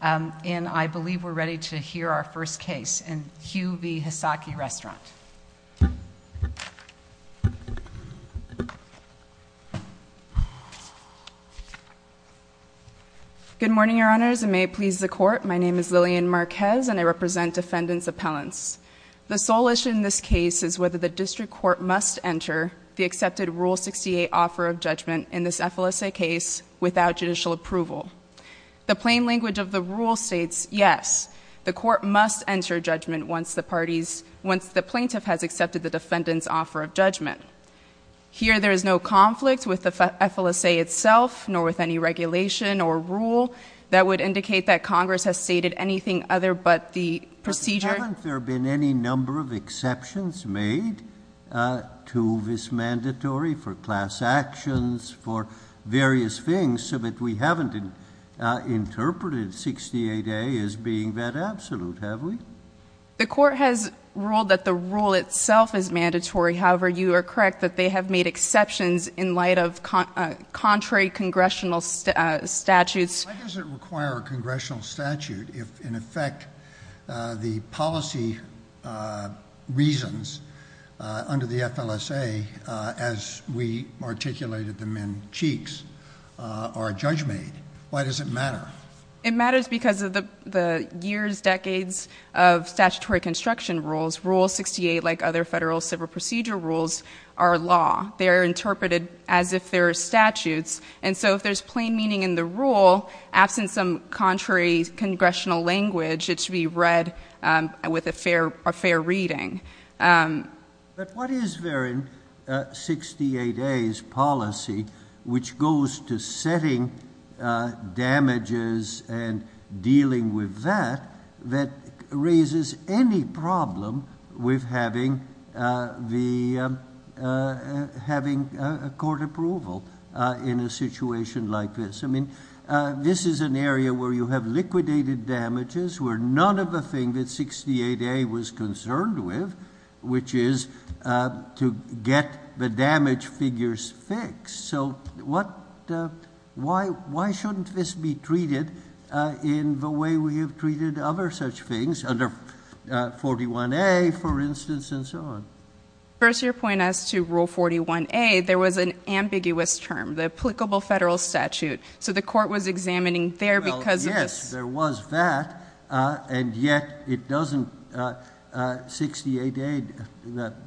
And I believe we're ready to hear our first case. And Hugh v. Hasaki Restaurant. Good morning, your honors, and may it please the court. My name is Lillian Marquez, and I represent defendants' appellants. The sole issue in this case is whether the district court must enter the accepted Rule 68 offer of judgment in this FLSA case without judicial approval. The plain language of the rule states, yes, the court must enter judgment once the plaintiff has accepted the defendant's offer of judgment. Here there is no conflict with the FLSA itself, nor with any regulation or rule that would indicate that Congress has stated anything other but the procedure. Haven't there been any number of exceptions made to this mandatory for class actions, for various things, so that we haven't interpreted 68A as being that absolute, have we? The court has ruled that the rule itself is mandatory. However, you are correct that they have made exceptions in light of contrary congressional statutes. Why does it require a congressional statute if, in effect, the policy reasons under the FLSA, as we articulated them in Cheeks, are judge made? Why does it matter? It matters because of the years, decades of statutory construction rules. Rule 68, like other federal civil procedure rules, are law. They are interpreted as if they're statutes. And so, if there's plain meaning in the rule, absent some contrary congressional language, it should be read with a fair reading. But what is there in 68A's policy, which goes to setting damages and dealing with that, that raises any problem with having a court approval in a situation like this. I mean, this is an area where you have liquidated damages, where none of the things that 68A was concerned with, which is to get the damage figures fixed. So why shouldn't this be treated in the way we have treated other such things? Under 41A, for instance, and so on. First, your point as to rule 41A, there was an ambiguous term, the applicable federal statute. So the court was examining there because of this. Well, yes, there was that. And yet, it doesn't, 68A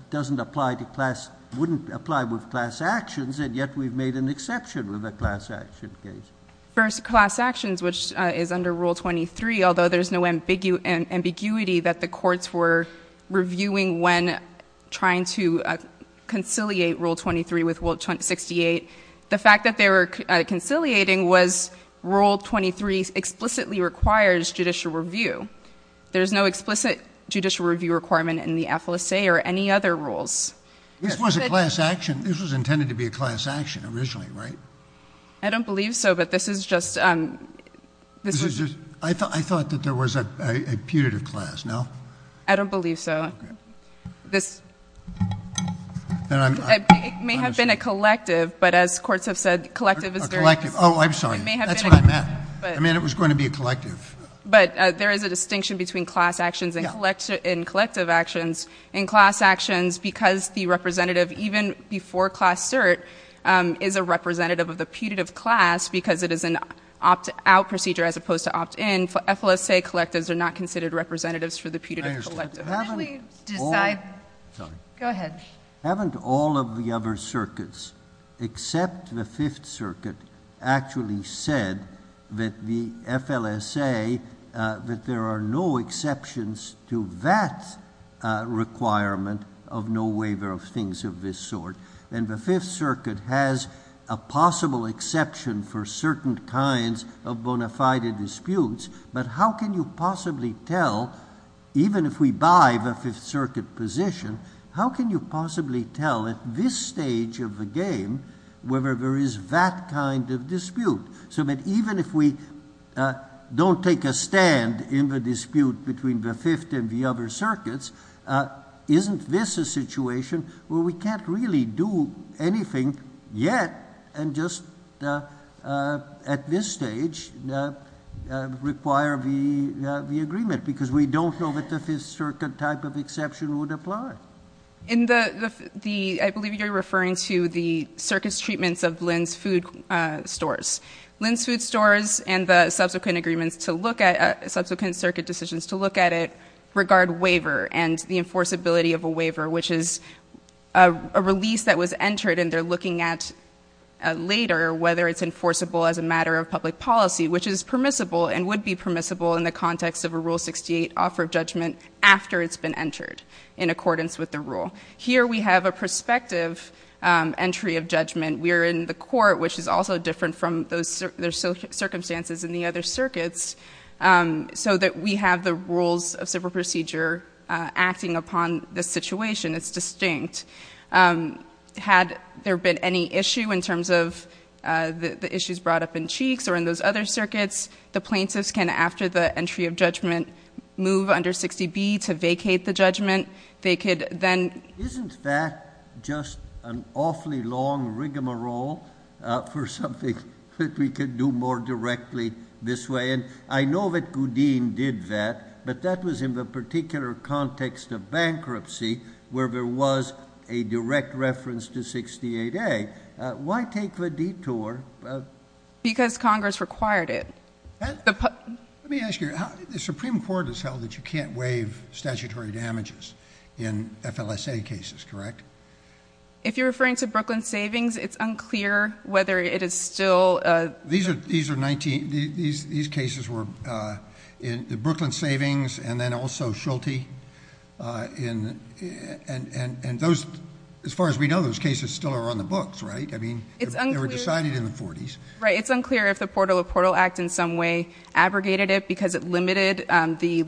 doesn't apply to class, wouldn't apply with class actions, and yet we've made an exception with a class action case. First, class actions, which is under Rule 23, although there's no ambiguity that the courts were reviewing when trying to conciliate Rule 23 with Rule 68. The fact that they were conciliating was Rule 23 explicitly requires judicial review. There's no explicit judicial review requirement in the FLSA or any other rules. This was a class action, this was intended to be a class action originally, right? I don't believe so, but this is just, this is just- I thought that there was a putative class, no? I don't believe so. Okay. This, it may have been a collective, but as courts have said, collective is very- A collective, I'm sorry, that's what I meant. I mean, it was going to be a collective. But there is a distinction between class actions and collective actions. In class actions, because the representative, even before class cert, is a representative of the putative class, because it is an opt-out procedure as opposed to opt-in. For FLSA collectives, they're not considered representatives for the putative collective. Haven't all of the other circuits, except the Fifth Circuit, actually said that the FLSA, that there are no exceptions to that requirement of no waiver of things of this sort. And the Fifth Circuit has a possible exception for certain kinds of bona fide disputes. But how can you possibly tell, even if we buy the Fifth Circuit position, how can you possibly tell at this stage of the game whether there is that kind of dispute? So that even if we don't take a stand in the dispute between the Fifth and the other circuits, isn't this a situation where we can't really do anything yet and just at this stage require the agreement. Because we don't know that the Fifth Circuit type of exception would apply. In the, I believe you're referring to the circuit's treatments of Lin's Food Stores. Lin's Food Stores and the subsequent agreements to look at, subsequent circuit decisions to look at it, regard waiver and the enforceability of a waiver, which is a release that was entered and they're looking at later whether it's enforceable as a matter of public policy, which is permissible and would be permissible in the context of a Rule 68 offer of judgment after it's been entered in accordance with the rule. Here we have a prospective entry of judgment. We are in the court, which is also different from the circumstances in the other circuits, so that we have the rules of civil procedure acting upon the situation. It's distinct. Had there been any issue in terms of the issues brought up in Cheeks or in those other circuits, the plaintiffs can, after the entry of judgment, move under 60B to vacate the judgment. They could then- Isn't that just an awfully long rigamarole for something that we could do more directly this way? And I know that Gudeen did that, but that was in the particular context of bankruptcy where there was a direct reference to 68A. Why take the detour of- Because Congress required it. Let me ask you, the Supreme Court has held that you can't waive statutory damages in FLSA cases, correct? If you're referring to Brooklyn Savings, it's unclear whether it is still- These cases were in the Brooklyn Savings and then also Schulte, and as far as we know, those cases still are on the books, right? I mean, they were decided in the 40s. Right, it's unclear if the Portal of Portal Act in some way abrogated it because it limited the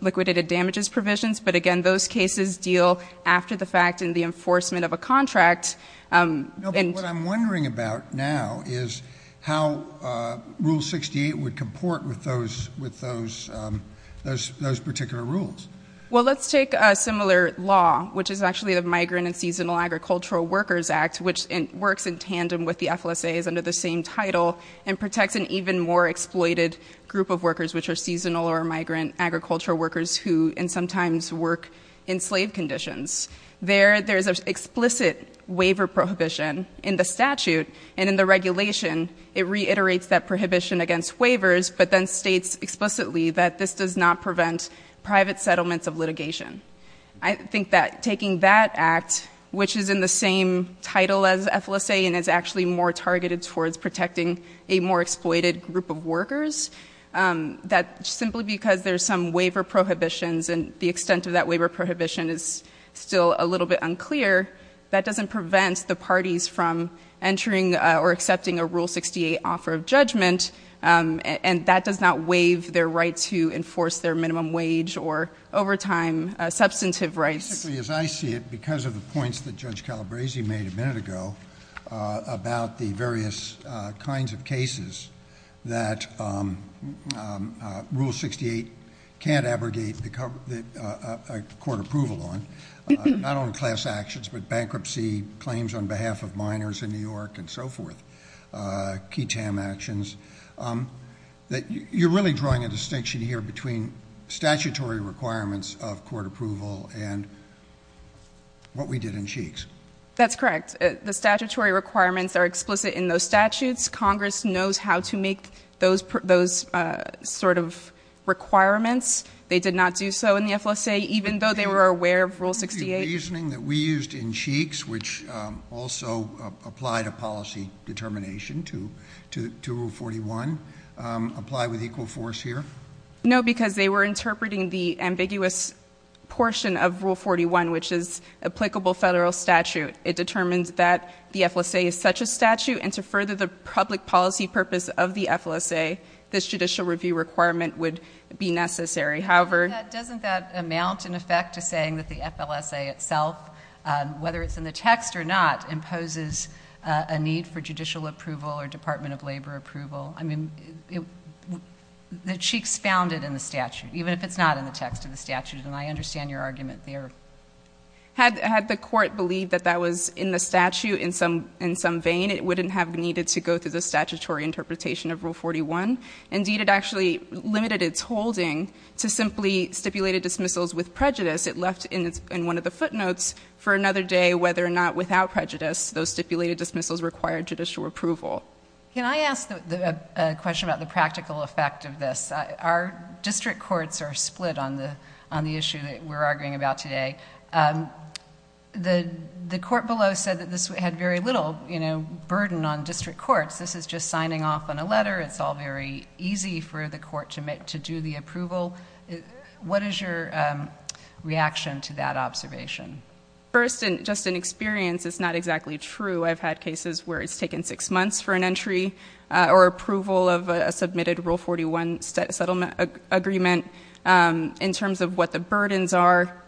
liquidated damages provisions. But again, those cases deal after the fact in the enforcement of a contract. And- No, but what I'm wondering about now is how Rule 68 would comport with those particular rules. Well, let's take a similar law, which is actually the Migrant and Seasonal Agricultural Workers Act, which works in tandem with the FLSAs under the same title, and protects an even more exploited group of workers, which are seasonal or migrant agricultural workers who sometimes work in slave conditions. There, there's an explicit waiver prohibition in the statute, and in the regulation, it reiterates that prohibition against waivers, but then states explicitly that this does not prevent private settlements of litigation. I think that taking that act, which is in the same title as FLSA and is actually more targeted towards protecting a more exploited group of workers, that simply because there's some waiver prohibitions and the extent of that waiver prohibition is still a little bit unclear, that doesn't prevent the parties from entering or accepting a Rule 68 offer of judgment. And that does not waive their right to enforce their minimum wage or overtime, substantive rights. Basically, as I see it, because of the points that Judge Calabresi made a minute ago about the various kinds of cases that Rule 68 can't abrogate a court approval on. Not only class actions, but bankruptcy claims on behalf of minors in New York and so forth. Key TAM actions, that you're really drawing a distinction here between statutory requirements of court approval and what we did in Sheiks. That's correct. The statutory requirements are explicit in those statutes. Congress knows how to make those sort of requirements. They did not do so in the FLSA, even though they were aware of Rule 68. The reasoning that we used in Sheiks, which also applied a policy determination to Rule 41, apply with equal force here? No, because they were interpreting the ambiguous portion of Rule 41, which is applicable federal statute. It determines that the FLSA is such a statute, and to further the public policy purpose of the FLSA, this judicial review requirement would be necessary. However- Doesn't that amount, in effect, to saying that the FLSA itself, whether it's in the text or not, imposes a need for judicial approval or department of labor approval? I mean, the Sheiks found it in the statute, even if it's not in the text of the statute, and I understand your argument there. Had the court believed that that was in the statute in some vein, it wouldn't have needed to go through the statutory interpretation of Rule 41. Indeed, it actually limited its holding to simply stipulated dismissals with prejudice. It left in one of the footnotes for another day whether or not without prejudice, those stipulated dismissals required judicial approval. Can I ask a question about the practical effect of this? Our district courts are split on the issue that we're arguing about today. The court below said that this had very little burden on district courts. This is just signing off on a letter. It's all very easy for the court to do the approval. What is your reaction to that observation? First, just in experience, it's not exactly true. I've had cases where it's taken six months for an entry or approval of a submitted Rule 41 settlement agreement in terms of what the burdens are.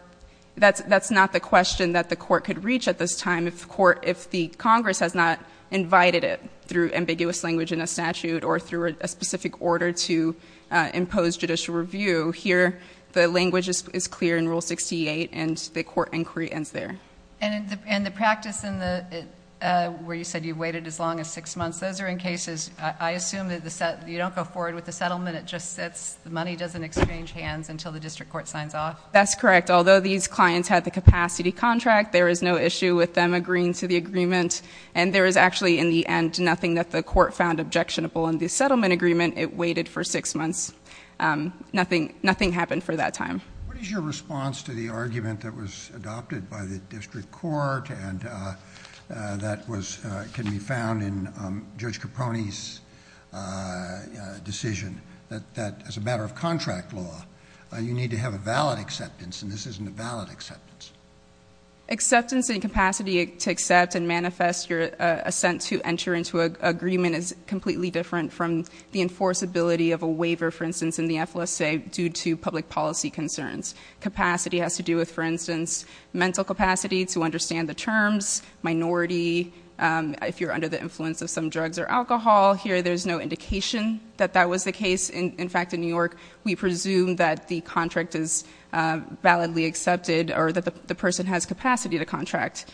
That's not the question that the court could reach at this time if the Congress has not invited it through ambiguous language in a statute or through a specific order to impose judicial review. Here, the language is clear in Rule 68, and the court inquiry ends there. And the practice where you said you waited as long as six months, those are in cases, I assume that you don't go forward with the settlement, it just sits, the money doesn't exchange hands until the district court signs off? That's correct. Although these clients had the capacity contract, there is no issue with them agreeing to the agreement. And there is actually, in the end, nothing that the court found objectionable. In the settlement agreement, it waited for six months. Nothing happened for that time. What is your response to the argument that was adopted by the district court and that can be found in Judge Caponi's decision? That as a matter of contract law, you need to have a valid acceptance, and this isn't a valid acceptance. Acceptance and capacity to accept and manifest your assent to enter into an agreement is completely different from the enforceability of a waiver, for instance, in the FLSA due to public policy concerns. Capacity has to do with, for instance, mental capacity to understand the terms, minority. If you're under the influence of some drugs or alcohol, here there's no indication that that was the case. In fact, in New York, we presume that the contract is validly accepted or that the person has capacity to contract.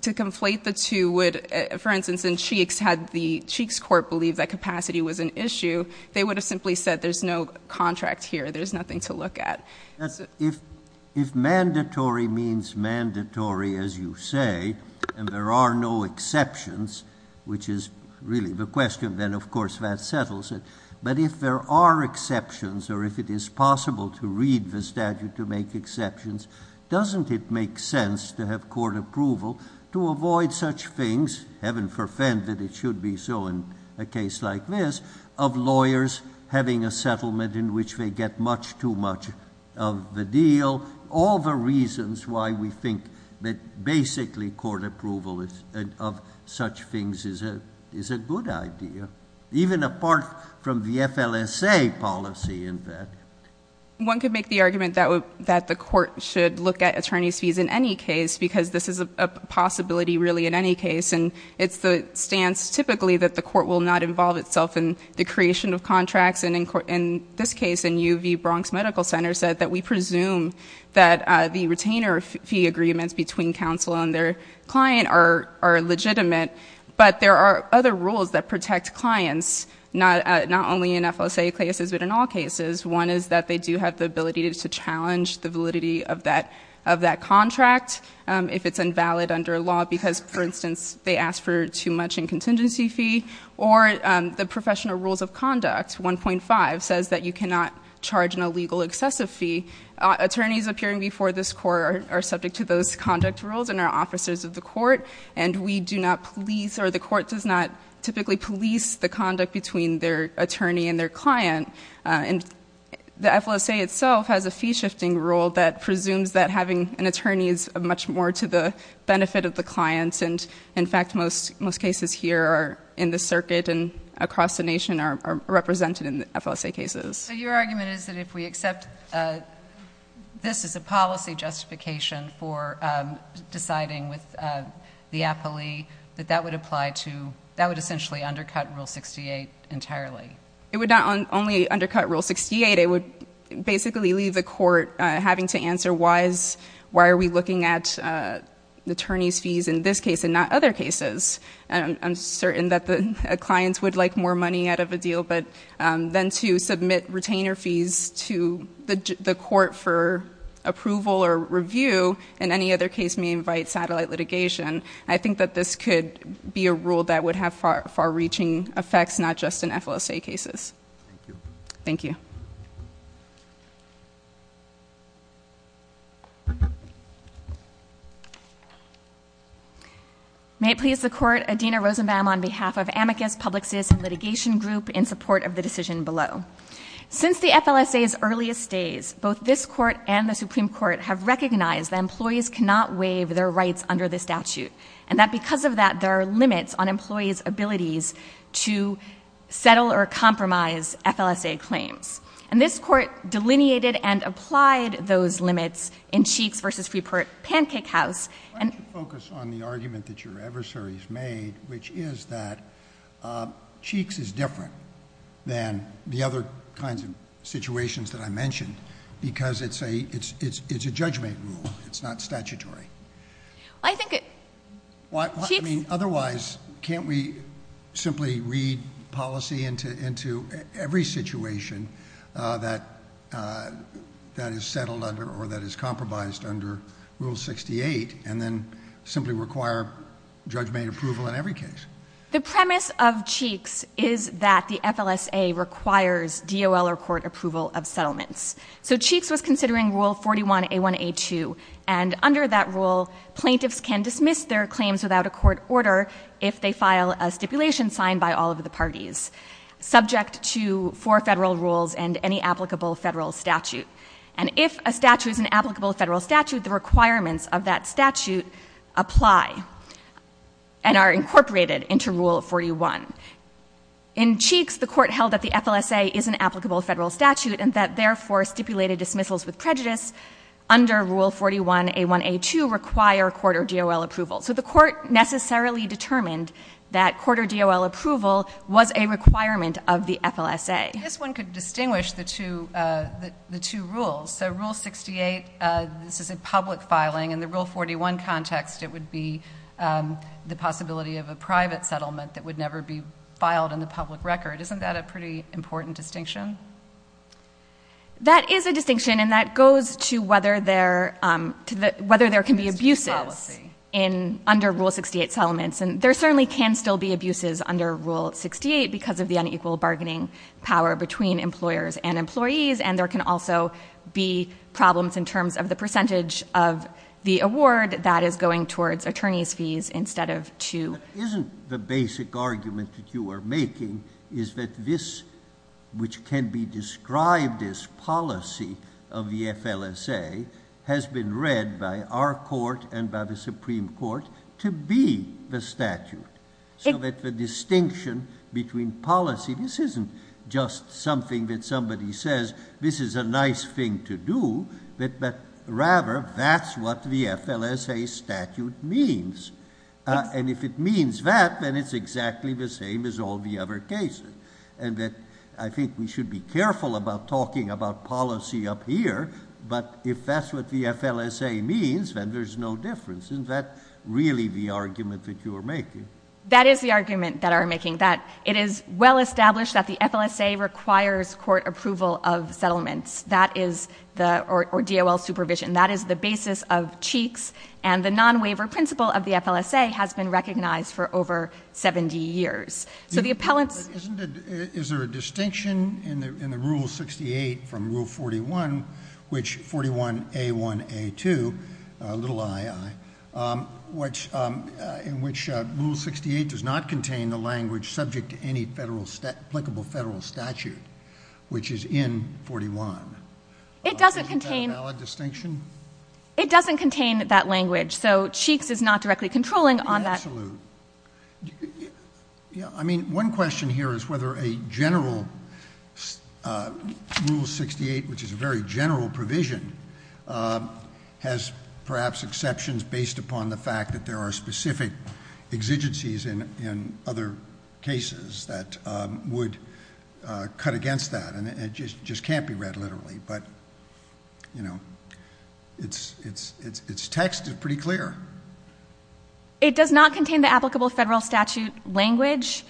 To conflate the two would, for instance, in Cheeks, had the Cheeks court believed that capacity was an issue, they would have simply said there's no contract here, there's nothing to look at. If mandatory means mandatory, as you say, and there are no exceptions, which is really the question, then of course that settles it. But if there are exceptions, or if it is possible to read the statute to make exceptions, doesn't it make sense to have court approval to avoid such things, heaven forfend that it should be so in a case like this, of lawyers having a settlement in which they get much too much of the deal? All the reasons why we think that basically court approval of such things is a good idea. Even apart from the FLSA policy, in fact. One could make the argument that the court should look at attorney's fees in any case, because this is a possibility really in any case. And it's the stance typically that the court will not involve itself in the creation of contracts. And in this case, in UV Bronx Medical Center said that we presume that the retainer fee agreements between counsel and their client are legitimate. But there are other rules that protect clients, not only in FLSA cases, but in all cases. One is that they do have the ability to challenge the validity of that contract, if it's invalid under law because, for instance, they ask for too much in contingency fee. Or the professional rules of conduct, 1.5, says that you cannot charge an illegal excessive fee. Attorneys appearing before this court are subject to those conduct rules and are officers of the court. And we do not police, or the court does not typically police the conduct between their attorney and their client. And the FLSA itself has a fee shifting rule that presumes that having an attorney is much more to the benefit of the clients. And in fact, most cases here are in the circuit and across the nation are represented in FLSA cases. So your argument is that if we accept this as a policy justification for deciding with the appellee, that that would apply to, that would essentially undercut Rule 68 entirely. It would not only undercut Rule 68, it would basically leave the court having to answer why is, why are we looking at attorney's fees in this case and not other cases? And I'm certain that the clients would like more money out of a deal, but then to submit retainer fees to the court for approval or review in any other case may invite satellite litigation. I think that this could be a rule that would have far reaching effects, not just in FLSA cases. Thank you. May it please the court, Adina Rosenbaum on behalf of Amicus Public System Litigation Group in support of the decision below. Since the FLSA's earliest days, both this court and the Supreme Court have recognized that employees cannot waive their rights under this statute. And that because of that, there are limits on employees' abilities to settle or compromise FLSA claims. And this court delineated and applied those limits in Cheeks versus Free Pancake House. And- Why don't you focus on the argument that your adversary's made, which is that Cheeks is different than the other kinds of situations that I mentioned, because it's a judgment rule, it's not statutory. I think it- Otherwise, can't we simply read policy into every situation that is settled under or that is compromised under Rule 68 and then simply require judgment approval in every case? The premise of Cheeks is that the FLSA requires DOL or court approval of settlements. So Cheeks was considering Rule 41A1A2, and under that rule, plaintiffs can dismiss their claims without a court order if they file a stipulation signed by all of the parties. Subject to four federal rules and any applicable federal statute. And if a statute is an applicable federal statute, the requirements of that statute apply and are incorporated into Rule 41. In Cheeks, the court held that the FLSA is an applicable federal statute and that therefore stipulated dismissals with prejudice under Rule 41A1A2 require court or DOL approval. So the court necessarily determined that court or DOL approval was a requirement of the FLSA. This one could distinguish the two rules. So Rule 68, this is a public filing. In the Rule 41 context, it would be the possibility of a private settlement that would never be filed in the public record. Isn't that a pretty important distinction? That is a distinction, and that goes to whether there can be abuses under Rule 68 settlements. And there certainly can still be abuses under Rule 68 because of the unequal bargaining power between employers and employees. And there can also be problems in terms of the percentage of the award that is going towards attorney's fees instead of to- Isn't the basic argument that you are making is that this, which can be described as policy of the FLSA, has been read by our court and by the Supreme Court to be the statute. So that the distinction between policy, this isn't just something that somebody says, this is a nice thing to do, but rather, that's what the FLSA statute means. And if it means that, then it's exactly the same as all the other cases. And that I think we should be careful about talking about policy up here, but if that's what the FLSA means, then there's no difference. Isn't that really the argument that you are making? That is the argument that I'm making, that it is well established that the FLSA requires court approval of settlements. That is the, or DOL supervision. That is the basis of Cheeks, and the non-waiver principle of the FLSA has been recognized for over 70 years. So the appellants- Isn't it, is there a distinction in the Rule 68 from Rule 41, which 41A1A2, little i, i, in which Rule 68 does not contain the language subject to any applicable federal statute, which is in 41. Isn't that a valid distinction? It doesn't contain that language, so Cheeks is not directly controlling on that. Absolutely. Yeah, I mean, one question here is whether a general Rule 68, which is a very general provision, has perhaps exceptions based upon the fact that there are specific exigencies in other cases that would cut against that. And it just can't be read literally, but it's text is pretty clear. It does not contain the applicable federal statute language.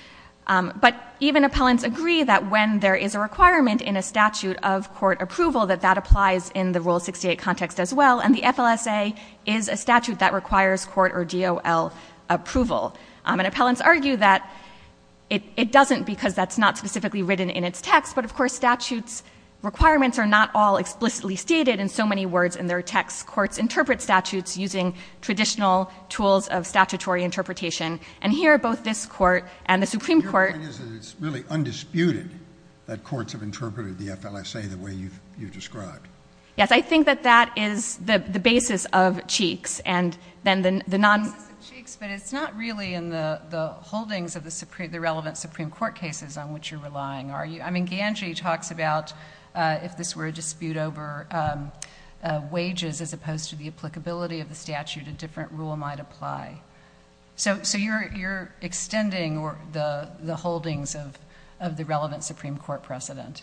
But even appellants agree that when there is a requirement in a statute of court approval, that that applies in the Rule 68 context as well, and the FLSA is a statute that requires court or DOL approval. And appellants argue that it doesn't because that's not specifically written in its text, but of course statutes requirements are not all explicitly stated in so many words in their texts. Courts interpret statutes using traditional tools of statutory interpretation. And here, both this court and the Supreme Court- Your point is that it's really undisputed that courts have interpreted the FLSA the way you've described. Yes, I think that that is the basis of Cheeks, and then the non- Cheeks, but it's not really in the holdings of the relevant Supreme Court cases on which you're relying, are you? I mean, Ganji talks about if this were a dispute over wages as opposed to the applicability of the statute, a different rule might apply. So you're extending the holdings of the relevant Supreme Court precedent,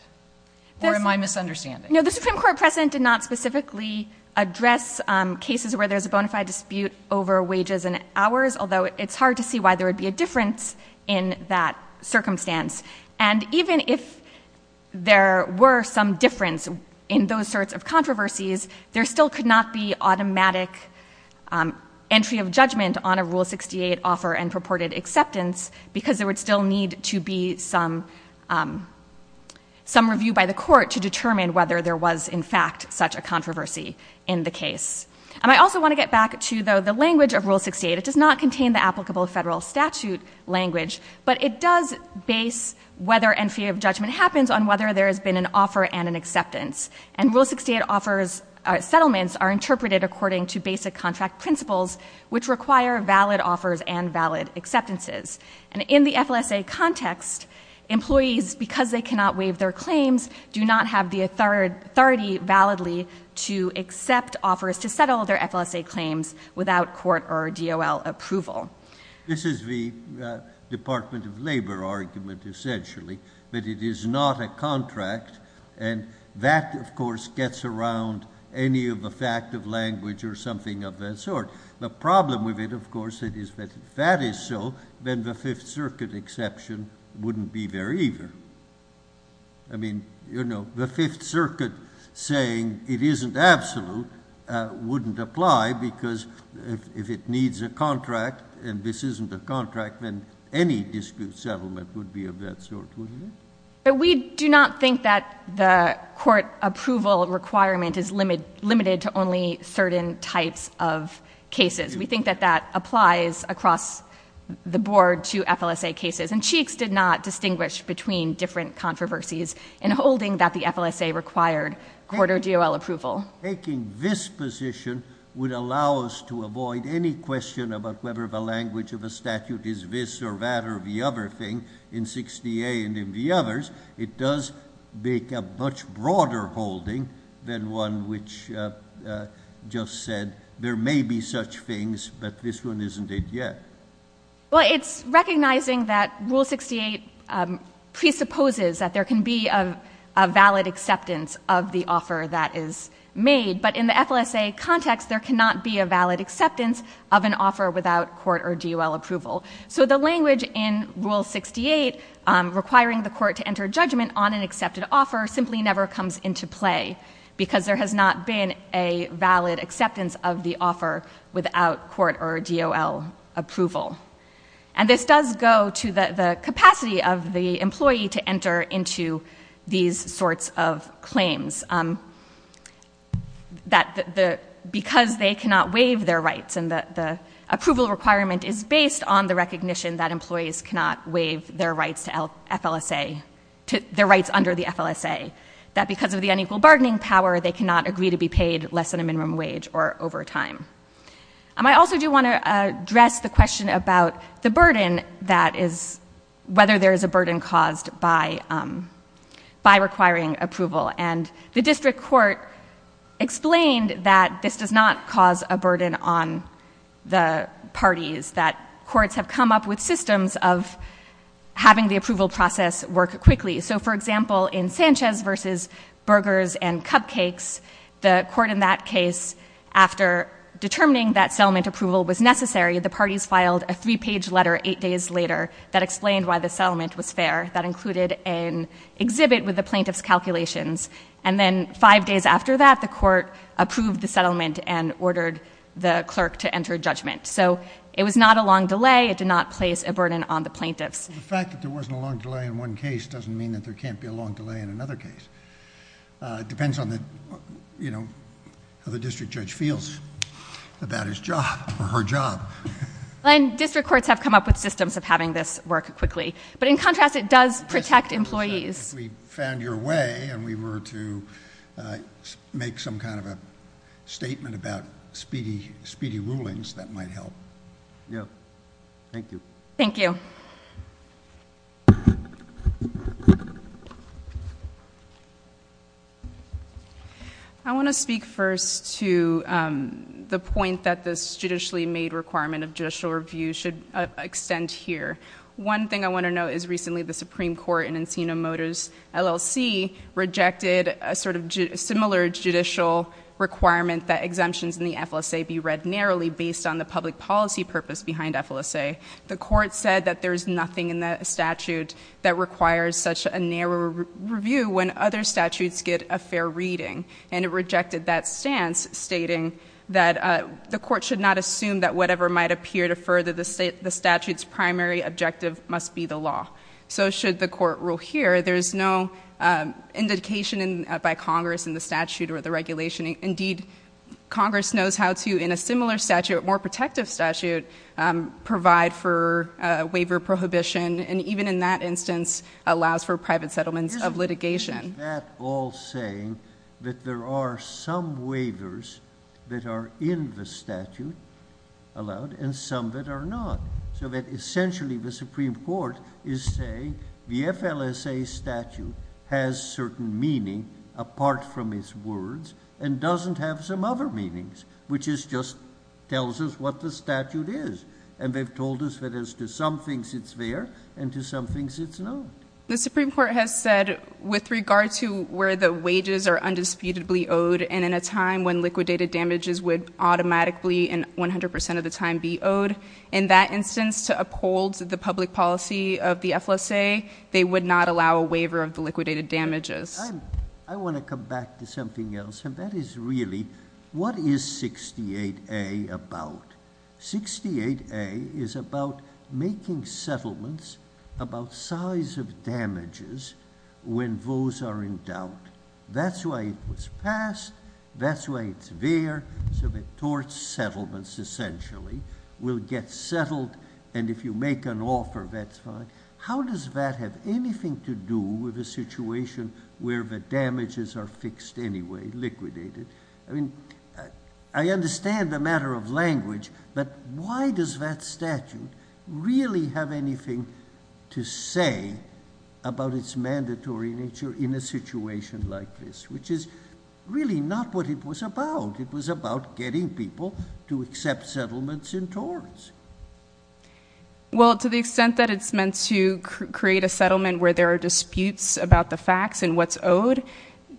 or am I misunderstanding? No, the Supreme Court precedent did not specifically address cases where there's a bona fide dispute over wages and hours, although it's hard to see why there would be a difference in that circumstance. And even if there were some difference in those sorts of controversies, there still could not be automatic entry of judgment on a Rule 68 offer and purported acceptance because there would still need to be some review by the court to determine whether there was in fact such a controversy in the case. And I also want to get back to the language of Rule 68, it does not contain the applicable federal statute language, but it does base whether and fear of judgment happens on whether there has been an offer and an acceptance. And Rule 68 offers, settlements are interpreted according to basic contract principles, which require valid offers and valid acceptances. And in the FLSA context, employees, because they cannot waive their claims, do not have the authority validly to accept offers to settle their FLSA claims without court or DOL approval. This is the Department of Labor argument, essentially, that it is not a contract. And that, of course, gets around any of the fact of language or something of that sort. The problem with it, of course, it is that if that is so, then the Fifth Circuit exception wouldn't be there either. I mean, the Fifth Circuit saying it isn't absolute wouldn't apply, because if it needs a contract and this isn't a contract, then any dispute settlement would be of that sort, wouldn't it? But we do not think that the court approval requirement is limited to only certain types of cases. We think that that applies across the board to FLSA cases. And Cheeks did not distinguish between different controversies in holding that the FLSA required court or DOL approval. Taking this position would allow us to avoid any question about whether the language of a statute is this or that or the other thing in 68 and in the others. It does make a much broader holding than one which just said there may be such things, but this one isn't it yet. Well, it's recognizing that Rule 68 presupposes that there can be a valid acceptance of the offer that is made. But in the FLSA context, there cannot be a valid acceptance of an offer without court or DOL approval. So the language in Rule 68 requiring the court to enter judgment on an accepted offer simply never comes into play. Because there has not been a valid acceptance of the offer without court or DOL approval. And this does go to the capacity of the employee to enter into these sorts of claims. That because they cannot waive their rights and the approval requirement is based on the recognition that employees cannot waive their rights to FLSA. Their rights under the FLSA. That because of the unequal bargaining power, they cannot agree to be paid less than a minimum wage or overtime. I also do want to address the question about the burden that is, whether there is a burden caused by requiring approval. And the district court explained that this does not cause a burden on the parties that courts have come up with systems of having the approval process work quickly. So for example, in Sanchez versus Burgers and Cupcakes, the court in that case, after determining that settlement approval was necessary, the parties filed a three page letter eight days later that explained why the settlement was fair. That included an exhibit with the plaintiff's calculations. And then five days after that, the court approved the settlement and ordered the clerk to enter judgment. So it was not a long delay. It did not place a burden on the plaintiffs. The fact that there wasn't a long delay in one case doesn't mean that there can't be a long delay in another case. It depends on how the district judge feels about his job or her job. And district courts have come up with systems of having this work quickly. But in contrast, it does protect employees. If we found your way and we were to make some kind of a statement about speedy rulings, that might help. Yeah. Thank you. Thank you. I want to speak first to the point that this judicially made requirement of judicial review should extend here. One thing I want to note is recently the Supreme Court in Encino Motors LLC rejected a sort of similar judicial requirement that exemptions in the FLSA be read narrowly based on the public policy purpose behind FLSA. The court said that there's nothing in the statute that requires such a narrow review when other statutes get a fair reading. And it rejected that stance stating that the court should not assume that whatever might appear to further the statute's primary objective must be the law. So should the court rule here, there's no indication by Congress in the statute or the regulation. Indeed, Congress knows how to, in a similar statute, more protective statute, provide for a waiver prohibition, and even in that instance, allows for private settlements of litigation. Isn't that all saying that there are some waivers that are in the statute, allowed, and some that are not, so that essentially the Supreme Court is saying the FLSA statute has certain meaning apart from its words and doesn't have some other meanings, which is just tells us what the statute is. And they've told us that as to some things it's there, and to some things it's not. The Supreme Court has said with regard to where the wages are undisputably owed and in a time when liquidated damages would automatically in 100% of the time be owed. In that instance, to uphold the public policy of the FLSA, they would not allow a waiver of the liquidated damages. I want to come back to something else, and that is really, what is 68A about? 68A is about making settlements about size of damages when those are in doubt. That's why it was passed, that's why it's there, so the tort settlements essentially will get settled, and if you make an offer, that's fine. How does that have anything to do with a situation where the damages are fixed anyway, liquidated? I mean, I understand the matter of language, but why does that statute really have anything to say about its mandatory nature in a situation like this, which is really not what it was about. It was about getting people to accept settlements in torts. Well, to the extent that it's meant to create a settlement where there are disputes about the facts and what's owed,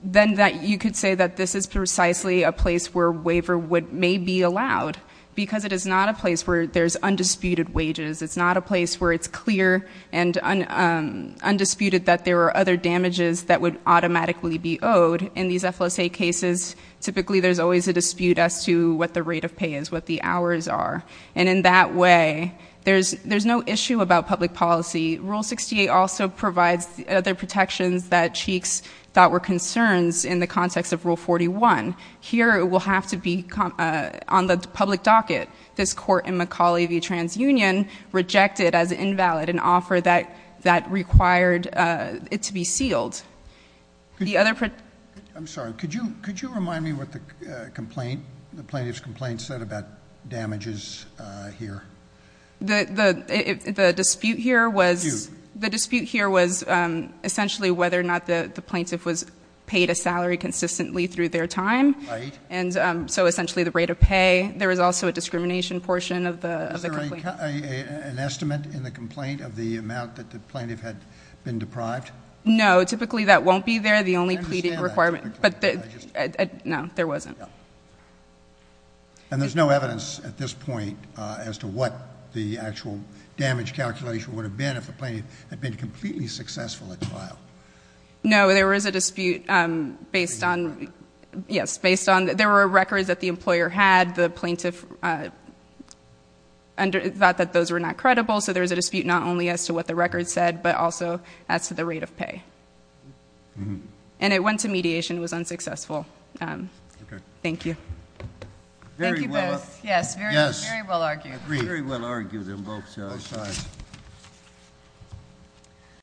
then you could say that this is precisely a place where a waiver may be allowed. Because it is not a place where there's undisputed wages. It's not a place where it's clear and undisputed that there are other damages that would automatically be owed. In these FLSA cases, typically there's always a dispute as to what the rate of pay is, what the hours are. And in that way, there's no issue about public policy. Rule 68 also provides other protections that Cheeks thought were concerns in the context of Rule 41. Here it will have to be on the public docket. This court in McAuley v. TransUnion rejected as invalid an offer that required it to be sealed. I'm sorry, could you remind me what the complaint, the plaintiff's complaint said about damages here? The dispute here was essentially whether or not the plaintiff was paid a salary consistently through their time, and so essentially the rate of pay. There was also a discrimination portion of the complaint. Is there an estimate in the complaint of the amount that the plaintiff had been deprived? No, typically that won't be there. The only pleading requirement. But, no, there wasn't. And there's no evidence at this point as to what the actual damage calculation would have been if the plaintiff had been completely successful at trial. No, there was a dispute based on, yes, based on, there were records that the employer had. The plaintiff thought that those were not credible, so there was a dispute not only as to what the record said, but also as to the rate of pay. And it went to mediation, it was unsuccessful. Thank you. Thank you both. Yes, very well argued. Very well argued on both sides.